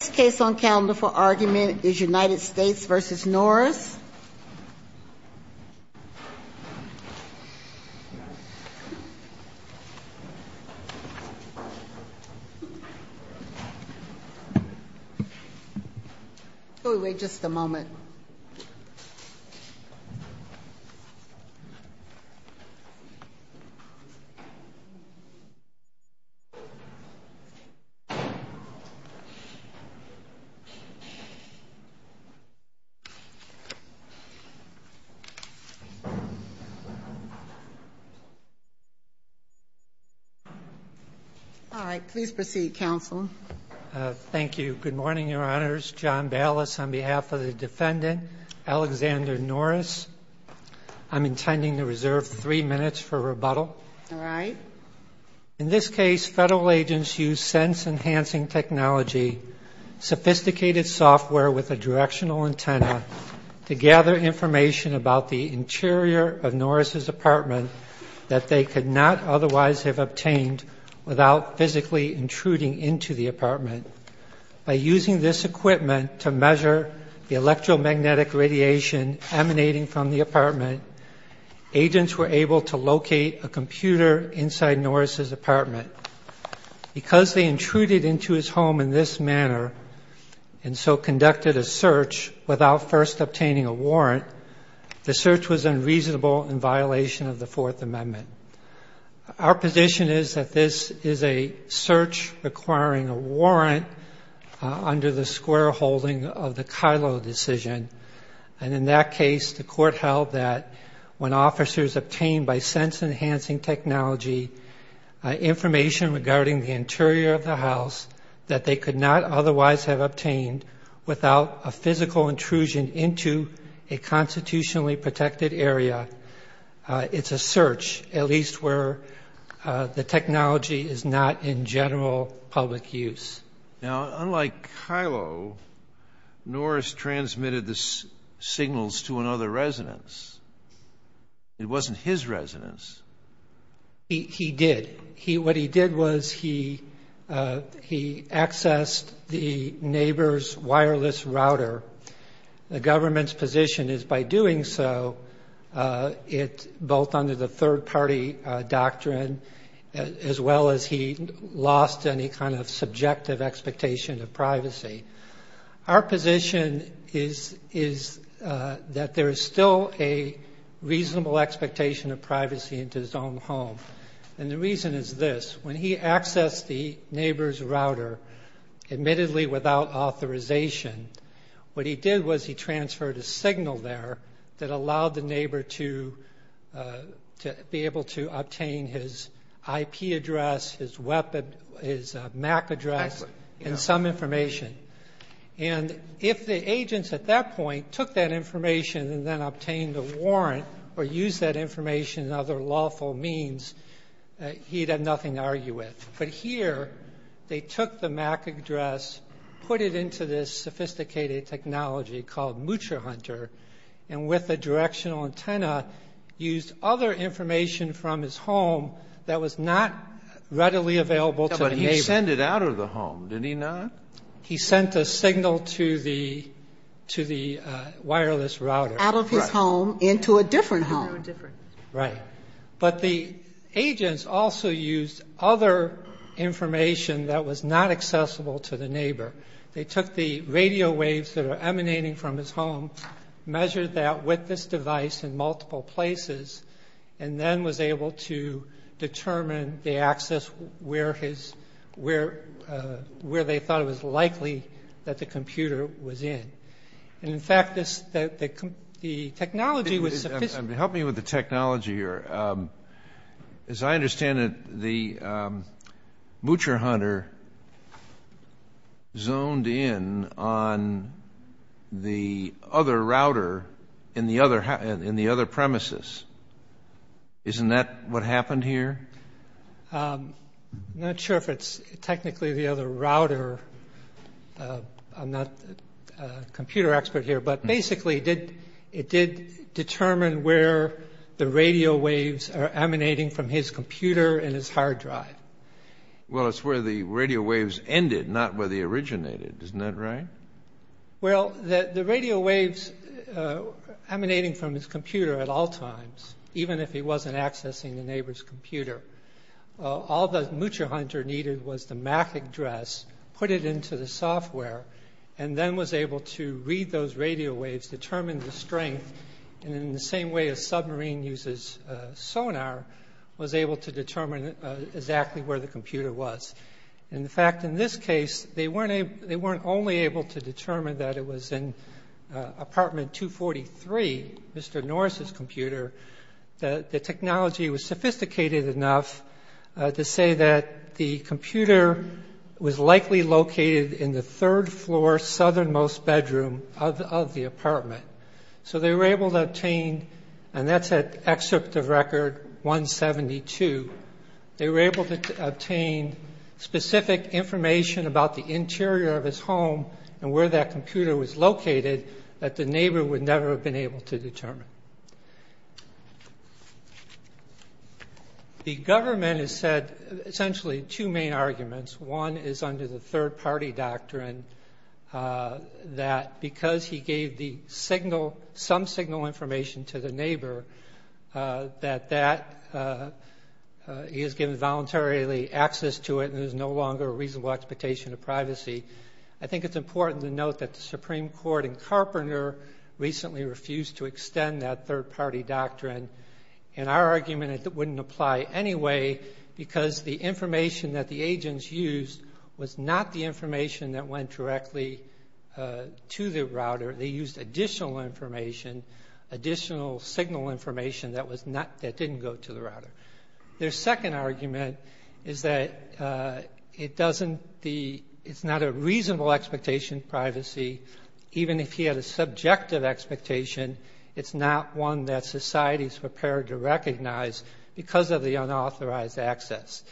This case on calendar for argument is United States v. Norris All right. Please proceed, counsel. Thank you. Good morning, Your Honors. John Ballas on behalf of the defendant, Alexander Norris. I'm intending to reserve three minutes for rebuttal. All right. In this case, federal agents used sense-enhancing technology, sophisticated software with a directional antenna, to gather information about the interior of Norris' apartment that they could not otherwise have obtained without physically intruding into the apartment. By using this equipment to measure the electromagnetic radiation emanating from the apartment, agents were able to locate a computer inside Norris' apartment. Because they intruded into his home in this manner and so conducted a search without first obtaining a warrant, the search was unreasonable in violation of the Fourth Amendment. Our position is that this is a search requiring a warrant under the squareholding of the Kylo decision, and in that case the court held that when officers obtained by sense-enhancing technology information regarding the interior of the house that they could not otherwise have obtained without a physical intrusion into a constitutionally protected area, it's a search, at least where the technology is not in general public use. Now, unlike Kylo, Norris transmitted the signals to another residence. It wasn't his residence. He did. What he did was he accessed the neighbor's wireless router. The government's position is by doing so, both under the third-party doctrine as well as he lost any kind of subjective expectation of privacy. Our position is that there is still a reasonable expectation of privacy into his own home, and the reason is this. When he accessed the neighbor's router, admittedly without authorization, what he did was he transferred a signal there that allowed the neighbor to be able to obtain his IP address, his MAC address, and some information. And if the agents at that point took that information and then obtained a warrant or used that information in other lawful means, he'd have nothing to argue with. But here they took the MAC address, put it into this sophisticated technology called MutraHunter, and with a directional antenna used other information from his home that was not readily available to the neighbor. But he sent it out of the home, did he not? He sent a signal to the wireless router. Out of his home into a different home. Into a different. Right. But the agents also used other information that was not accessible to the neighbor. They took the radio waves that are emanating from his home, measured that with this device in multiple places, and then was able to determine the access where his ‑‑ where they thought it was likely that the computer was in. And, in fact, the technology was sophisticated. Help me with the technology here. As I understand it, the MutraHunter zoned in on the other router in the other premises. Isn't that what happened here? I'm not sure if it's technically the other router. I'm not a computer expert here. But, basically, it did determine where the radio waves are emanating from his computer and his hard drive. Well, it's where the radio waves ended, not where they originated. Isn't that right? Well, the radio waves emanating from his computer at all times, even if he wasn't accessing the neighbor's computer, all the MutraHunter needed was the MAC address, put it into the software, and then was able to read those radio waves, determine the strength, and in the same way a submarine uses sonar, was able to determine exactly where the computer was. In fact, in this case, they weren't only able to determine that it was in apartment 243, Mr. Norris's computer. The technology was sophisticated enough to say that the computer was likely located in the third floor southernmost bedroom of the apartment. So they were able to obtain, and that's at excerpt of record 172, they were able to obtain specific information about the interior of his home and where that computer was located that the neighbor would never have been able to determine. The government has said essentially two main arguments. One is under the third-party doctrine that because he gave the signal, some signal information to the neighbor, that he was given voluntarily access to it and there was no longer a reasonable expectation of privacy. I think it's important to note that the Supreme Court in Carpenter recently refused to extend that third-party doctrine. In our argument, it wouldn't apply anyway because the information that the agents used was not the information that went directly to the router. They used additional information, additional signal information that didn't go to the router. Even if he had a subjective expectation, it's not one that society's prepared to recognize because of the unauthorized access.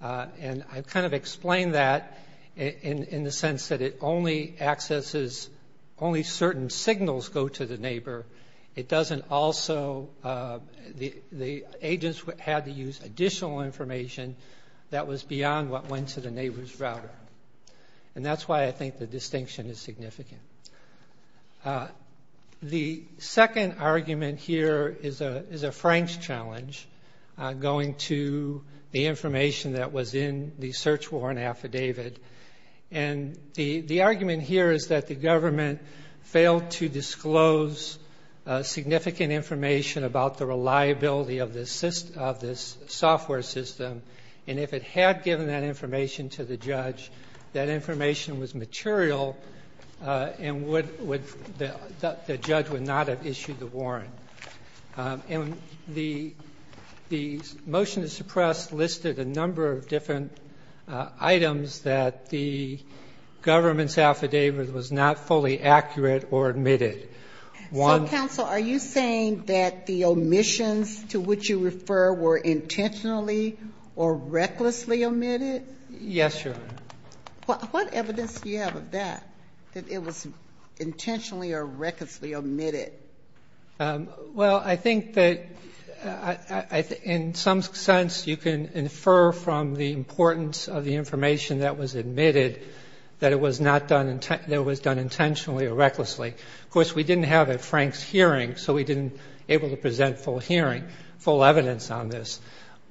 And I've kind of explained that in the sense that it only accesses, only certain signals go to the neighbor. It doesn't also, the agents had to use additional information that was beyond what went to the neighbor's router. And that's why I think the distinction is significant. The second argument here is a Frank's challenge going to the information that was in the search warrant affidavit. And the argument here is that the government failed to disclose significant information about the reliability of this software system and if it had given that information to the judge, that information was material and the judge would not have issued the warrant. And the motion to suppress listed a number of different items that the government's affidavit was not fully accurate or admitted. So, counsel, are you saying that the omissions to which you refer were intentionally or recklessly omitted? Yes, Your Honor. What evidence do you have of that, that it was intentionally or recklessly omitted? Well, I think that in some sense, you can infer from the importance of the information that was admitted that it was not done intentionally or recklessly. Of course, we didn't have a Frank's hearing, so we didn't able to present full hearing, full evidence on this.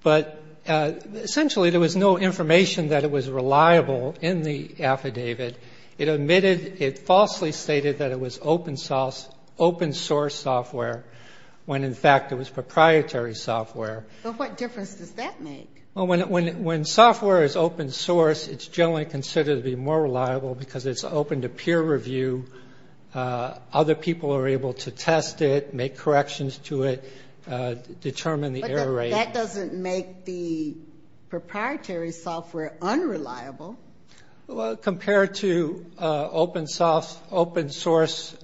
But essentially, there was no information that it was reliable in the affidavit. It admitted, it falsely stated that it was open source software when, in fact, it was proprietary software. But what difference does that make? Well, when software is open source, it's generally considered to be more reliable because it's open to peer review. Other people are able to test it, make corrections to it, determine the error rate. But that doesn't make the proprietary software unreliable. Well, compared to open source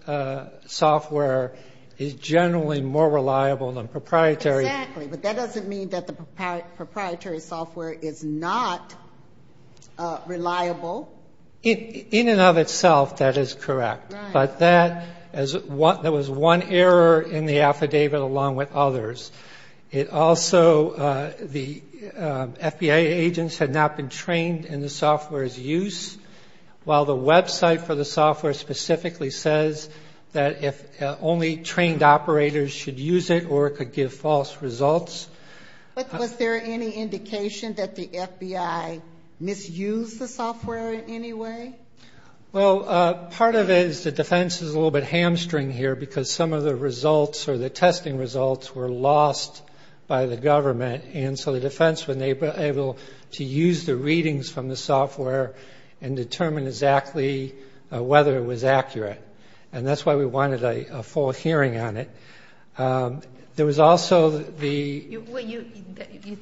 software, it's generally more reliable than proprietary. Exactly. But that doesn't mean that the proprietary software is not reliable. In and of itself, that is correct. Right. But that was one error in the affidavit along with others. It also, the FBI agents had not been trained in the software's use, while the website for the software specifically says that only trained operators should use it or it could give false results. Was there any indication that the FBI misused the software in any way? Well, part of it is the defense is a little bit hamstring here because some of the results or the testing results were lost by the government. And so the defense was able to use the readings from the software and determine exactly whether it was accurate. And that's why we wanted a full hearing on it. There was also the — Well, you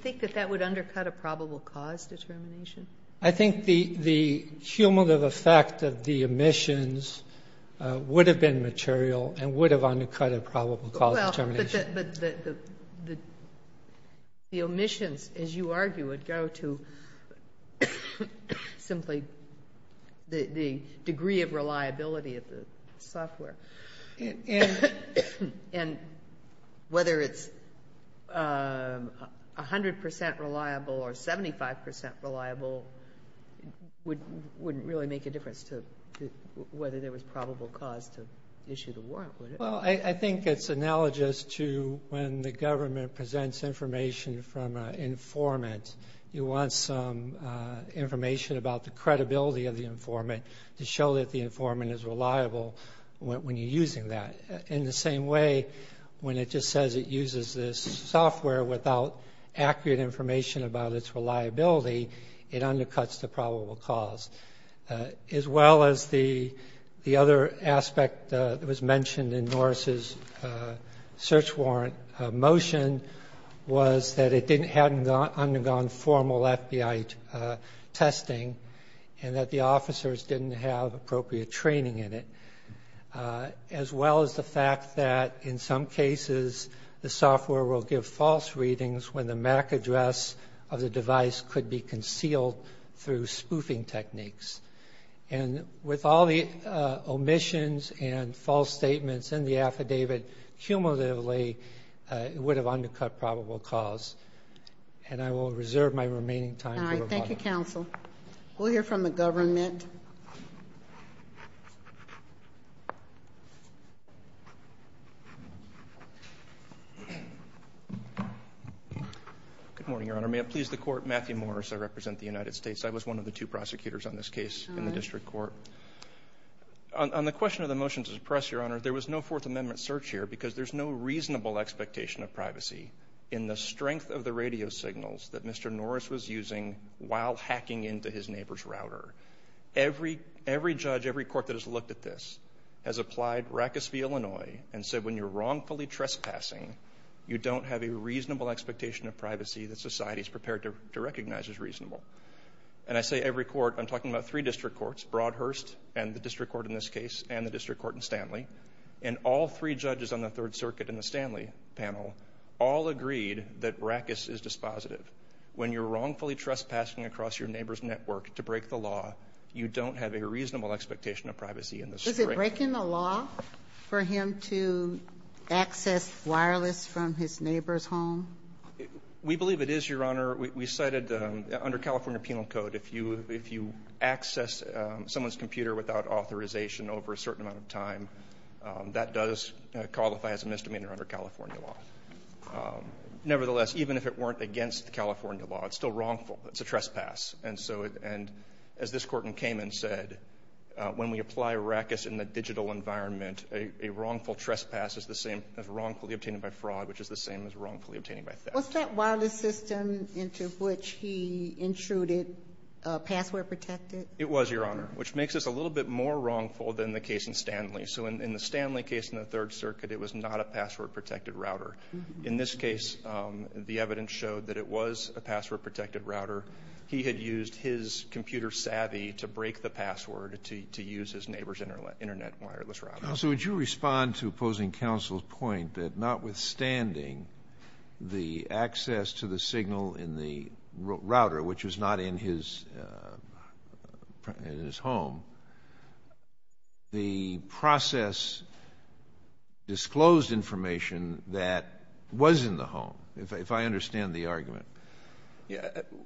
think that that would undercut a probable cause determination? I think the cumulative effect of the omissions would have been material and would have undercut a probable cause determination. Well, but the omissions, as you argue, And whether it's 100% reliable or 75% reliable wouldn't really make a difference to whether there was probable cause to issue the warrant, would it? Well, I think it's analogous to when the government presents information from an informant. You want some information about the credibility of the informant to show that the informant is reliable when you're using that. In the same way, when it just says it uses this software without accurate information about its reliability, it undercuts the probable cause. As well as the other aspect that was mentioned in Norris' search warrant motion was that it hadn't undergone formal FBI testing and that the officers didn't have appropriate training in it, as well as the fact that in some cases the software will give false readings when the MAC address of the device could be concealed through spoofing techniques. And with all the omissions and false statements in the affidavit cumulatively, it would have undercut probable cause. And I will reserve my remaining time for rebuttal. Thank you, counsel. We'll hear from the government. Good morning, Your Honor. May it please the Court, Matthew Morris. I represent the United States. I was one of the two prosecutors on this case in the district court. On the question of the motion to suppress, Your Honor, because there's no reasonable expectation of privacy in the strength of the radio signals that Mr. Norris was using while hacking into his neighbor's router. Every judge, every court that has looked at this has applied Rackus v. Illinois and said when you're wrongfully trespassing, you don't have a reasonable expectation of privacy that society is prepared to recognize as reasonable. And I say every court. I'm talking about three district courts, Broadhurst and the district court in this case and the district court in Stanley. And all three judges on the Third Circuit in the Stanley panel, all agreed that Rackus is dispositive. When you're wrongfully trespassing across your neighbor's network to break the law, you don't have a reasonable expectation of privacy in the strength. Is it breaking the law for him to access wireless from his neighbor's home? We believe it is, Your Honor. We cited under California penal code, if you access someone's computer without authorization over a certain amount of time, that does qualify as a misdemeanor under California law. Nevertheless, even if it weren't against the California law, it's still wrongful. It's a trespass. And so as this Court in Cayman said, when we apply Rackus in the digital environment, a wrongful trespass is the same as wrongfully obtained by fraud, which is the same as wrongfully obtained by theft. Was that wireless system into which he intruded password protected? It was, Your Honor, which makes this a little bit more wrongful than the case in Stanley. So in the Stanley case in the Third Circuit, it was not a password protected router. In this case, the evidence showed that it was a password protected router. He had used his computer savvy to break the password to use his neighbor's internet wireless router. Counsel, would you respond to opposing counsel's point that notwithstanding the access to the signal in the router, which was not in his home, the process disclosed information that was in the home, if I understand the argument?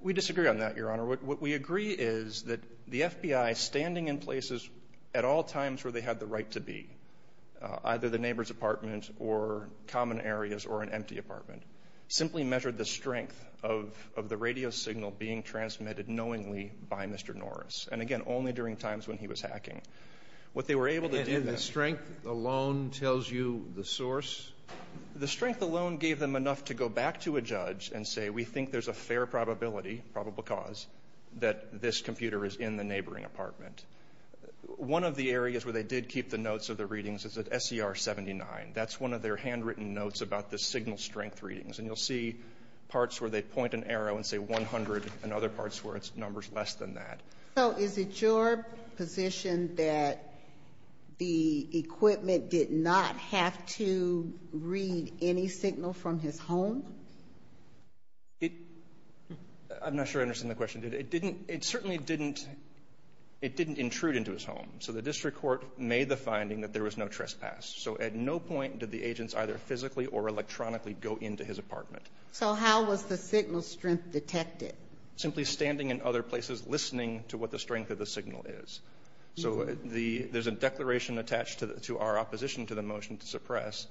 We disagree on that, Your Honor. What we agree is that the FBI, standing in places at all times where they had the right to be, either the neighbor's apartment or common areas or an empty apartment, simply measured the strength of the radio signal being transmitted knowingly by Mr. Norris. And, again, only during times when he was hacking. What they were able to do then — And the strength alone tells you the source? The strength alone gave them enough to go back to a judge and say, we think there's a fair probability, probable cause, that this computer is in the neighboring apartment. One of the areas where they did keep the notes of the readings is at SER 79. That's one of their handwritten notes about the signal strength readings. And you'll see parts where they point an arrow and say 100 and other parts where it's numbers less than that. So is it your position that the equipment did not have to read any signal from his home? I'm not sure I understand the question. It certainly didn't intrude into his home. So the district court made the finding that there was no trespass. So at no point did the agents either physically or electronically go into his apartment. So how was the signal strength detected? Simply standing in other places, listening to what the strength of the signal is. So there's a declaration attached to our opposition to the motion to suppress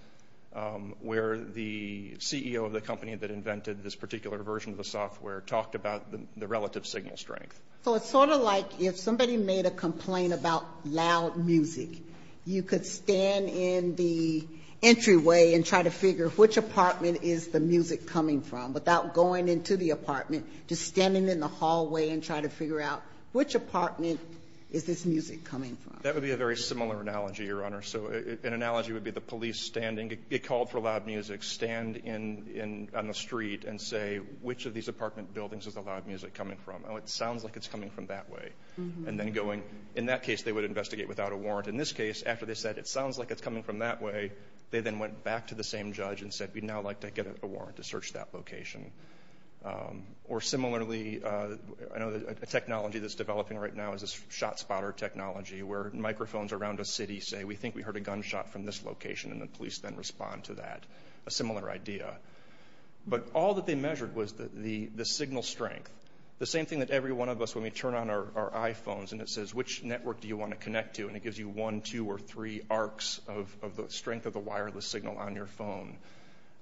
where the CEO of the company that invented this particular version of the software talked about the relative signal strength. So it's sort of like if somebody made a complaint about loud music, you could stand in the entryway and try to figure which apartment is the music coming from without going into the apartment, just standing in the hallway and trying to figure out which apartment is this music coming from. That would be a very similar analogy, Your Honor. So an analogy would be the police standing, get called for loud music, stand on the street and say, which of these apartment buildings is the loud music coming from? Oh, it sounds like it's coming from that way. And then going, in that case, they would investigate without a warrant. In this case, after they said, it sounds like it's coming from that way, they then went back to the same judge and said, we'd now like to get a warrant to search that location. Or similarly, I know a technology that's developing right now is this shot spotter technology where microphones around a city say, we think we heard a gunshot from this location, and the police then respond to that, a similar idea. But all that they measured was the signal strength. The same thing that every one of us, when we turn on our iPhones and it says, which network do you want to connect to, and it gives you one, two, or three arcs of the strength of the wireless signal on your phone.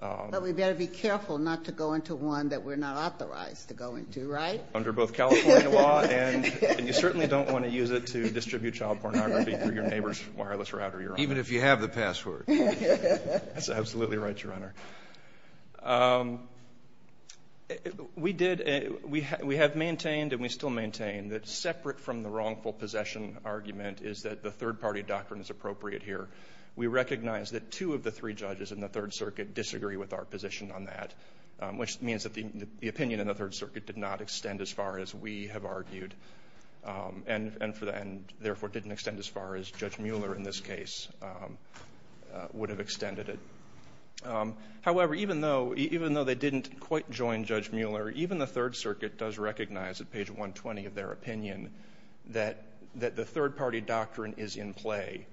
But we've got to be careful not to go into one that we're not authorized to go into, right? Under both California law and you certainly don't want to use it to distribute child pornography through your neighbor's wireless router, Your Honor. Even if you have the password. That's absolutely right, Your Honor. We have maintained and we still maintain that separate from the wrongful possession argument is that the third party doctrine is appropriate here. We recognize that two of the three judges in the Third Circuit disagree with our position on that, which means that the opinion in the Third Circuit did not extend as far as we have argued, and therefore didn't extend as far as Judge Mueller in this case would have extended it. However, even though they didn't quite join Judge Mueller, even the Third Circuit does recognize at page 120 of their opinion that the third party doctrine is in play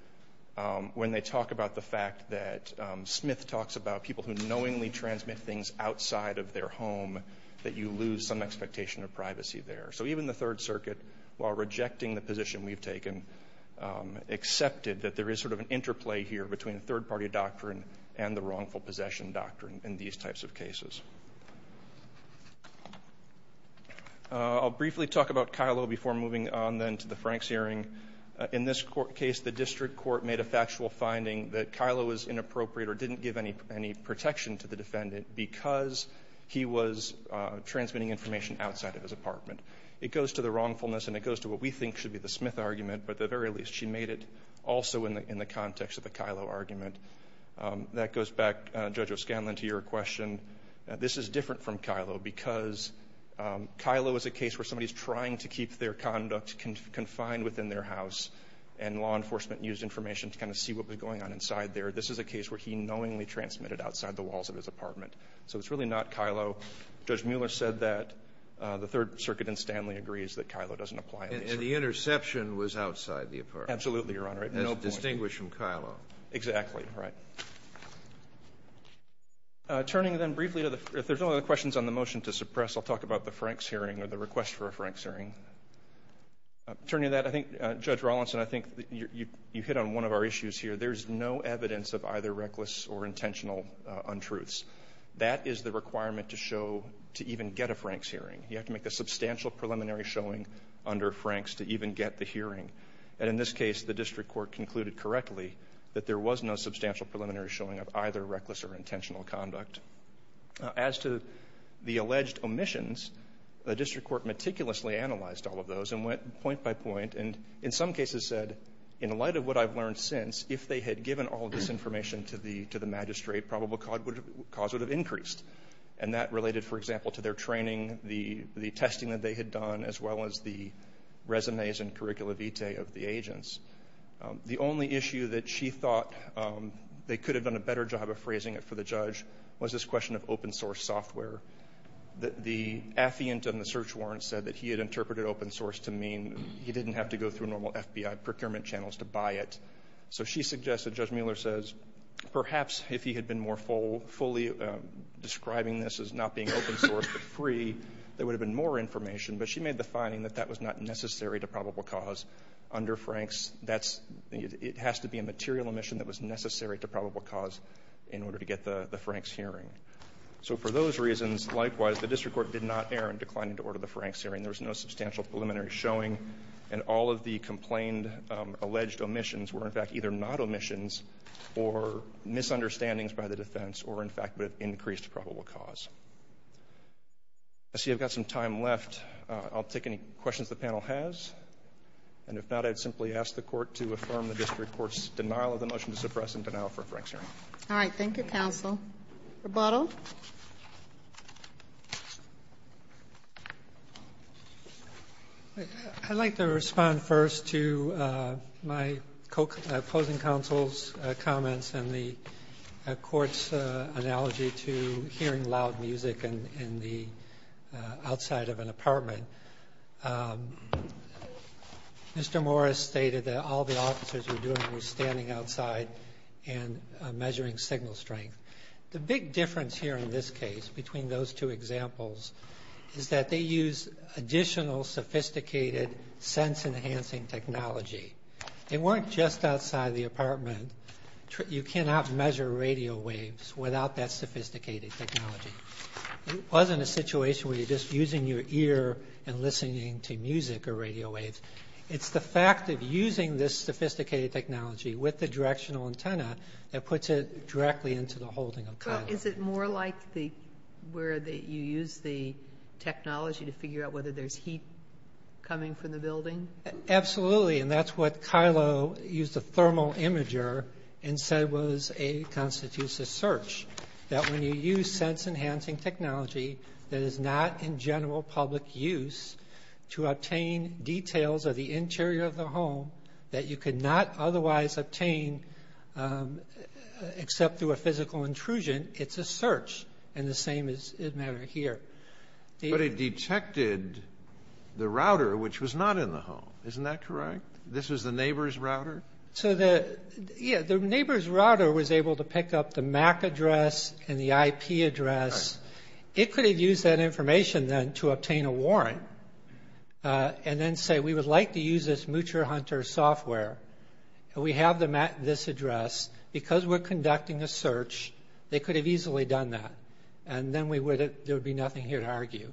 when they talk about the fact that Smith talks about people who knowingly transmit things outside of their home that you lose some expectation of privacy there. So even the Third Circuit, while rejecting the position we've taken, accepted that there is sort of an interplay here between the third party doctrine and the wrongful possession doctrine in these types of cases. I'll briefly talk about Kyllo before moving on then to the Franks hearing. In this case, the district court made a factual finding that Kyllo was inappropriate or didn't give any protection to the defendant because he was transmitting information outside of his apartment. It goes to the wrongfulness and it goes to what we think should be the Smith argument, but at the very least she made it also in the context of the Kyllo argument. That goes back, Judge O'Scanlan, to your question. This is different from Kyllo because Kyllo is a case where somebody is trying to keep their conduct confined within their house and law enforcement used information to kind of see what was going on inside there. This is a case where he knowingly transmitted outside the walls of his apartment. So it's really not Kyllo. Judge Mueller said that the Third Circuit in Stanley agrees that Kyllo doesn't apply. And the interception was outside the apartment. Absolutely, Your Honor. That's distinguished from Kyllo. Exactly. All right. Turning then briefly to the other questions on the motion to suppress. I'll talk about the Franks hearing or the request for a Franks hearing. Turning to that, I think, Judge Rawlinson, I think you hit on one of our issues here. There's no evidence of either reckless or intentional untruths. That is the requirement to show, to even get a Franks hearing. You have to make a substantial preliminary showing under Franks to even get the hearing. And in this case, the district court concluded correctly that there was no substantial preliminary showing of either reckless or intentional conduct. As to the alleged omissions, the district court meticulously analyzed all of those and went point by point and in some cases said, in light of what I've learned since, if they had given all of this information to the magistrate, probable cause would have increased. And that related, for example, to their training, the testing that they had done, as well as the resumes and curricula vitae of the agents. The only issue that she thought they could have done a better job of phrasing it for the judge was this question of open source software. The affiant on the search warrant said that he had interpreted open source to mean he didn't have to go through normal FBI procurement channels to buy it. So she suggested, Judge Mueller says, perhaps if he had been more fully describing this as not being open source, but free, there would have been more information. But she made the finding that that was not necessary to probable cause under Franks. That's the need. It has to be a material omission that was necessary to probable cause in order to get the Franks hearing. So for those reasons, likewise, the district court did not err in declining to order the Franks hearing. There was no substantial preliminary showing. And all of the complained alleged omissions were, in fact, either not omissions or misunderstandings by the defense or, in fact, would have increased probable cause. I see I've got some time left. I'll take any questions the panel has. And if not, I'd simply ask the court to affirm the district court's denial of the motion to suppress and denial for a Franks hearing. All right. Thank you, counsel. Rebuttal. I'd like to respond first to my opposing counsel's comments and the court's analogy to hearing loud music in the outside of an apartment. Mr. Morris stated that all the officers were doing was standing outside and measuring signal strength. The big difference here in this case between those two examples is that they use additional sophisticated sense-enhancing technology. They weren't just outside the apartment. You cannot measure radio waves without that sophisticated technology. It wasn't a situation where you're just using your ear and listening to music or radio waves. It's the fact of using this sophisticated technology with the directional antenna that puts it directly into the holding of Kylo. Well, is it more like where you use the technology to figure out whether there's heat coming from the building? Absolutely. And that's what Kylo used a thermal imager and said was a constitutive search, that when you use sense-enhancing technology that is not in general public use to obtain details of the interior of the home that you could not otherwise obtain except through a physical intrusion, it's a search. And the same is the matter here. But it detected the router, which was not in the home. Isn't that correct? This was the neighbor's router? So the neighbor's router was able to pick up the MAC address and the IP address. It could have used that information then to obtain a warrant. And then say, we would like to use this Muture Hunter software. We have this address. Because we're conducting a search, they could have easily done that. And then there would be nothing here to argue.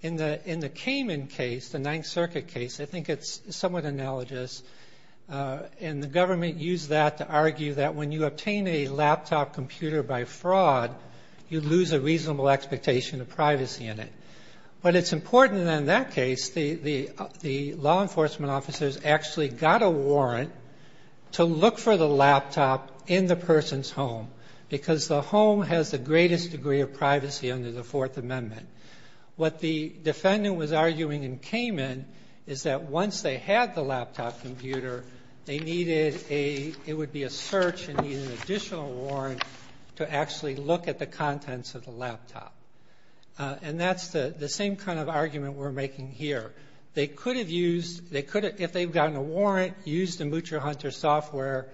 In the Cayman case, the Ninth Circuit case, I think it's somewhat analogous. And the government used that to argue that when you obtain a laptop computer by fraud, you lose a reasonable expectation of privacy in it. But it's important that in that case, the law enforcement officers actually got a warrant to look for the laptop in the person's home. Because the home has the greatest degree of privacy under the Fourth Amendment. What the defendant was arguing in Cayman is that once they had the laptop computer, they needed a – it would be a search and need an additional warrant to actually look at the contents of the laptop. And that's the same kind of argument we're making here. They could have used – they could have, if they've gotten a warrant, used the Muture Hunter software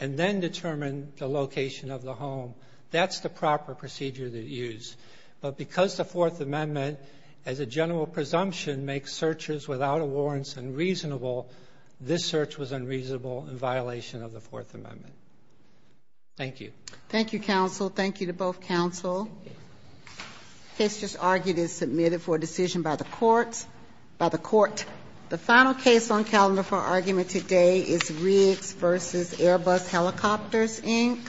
and then determined the location of the home. That's the proper procedure to use. But because the Fourth Amendment, as a general presumption, makes searches without a warrant unreasonable, this search was unreasonable in violation of the Fourth Amendment. Thank you. Thank you, counsel. Thank you to both counsel. Case just argued is submitted for decision by the court. The final case on calendar for argument today is Riggs v. Airbus Helicopters, Inc.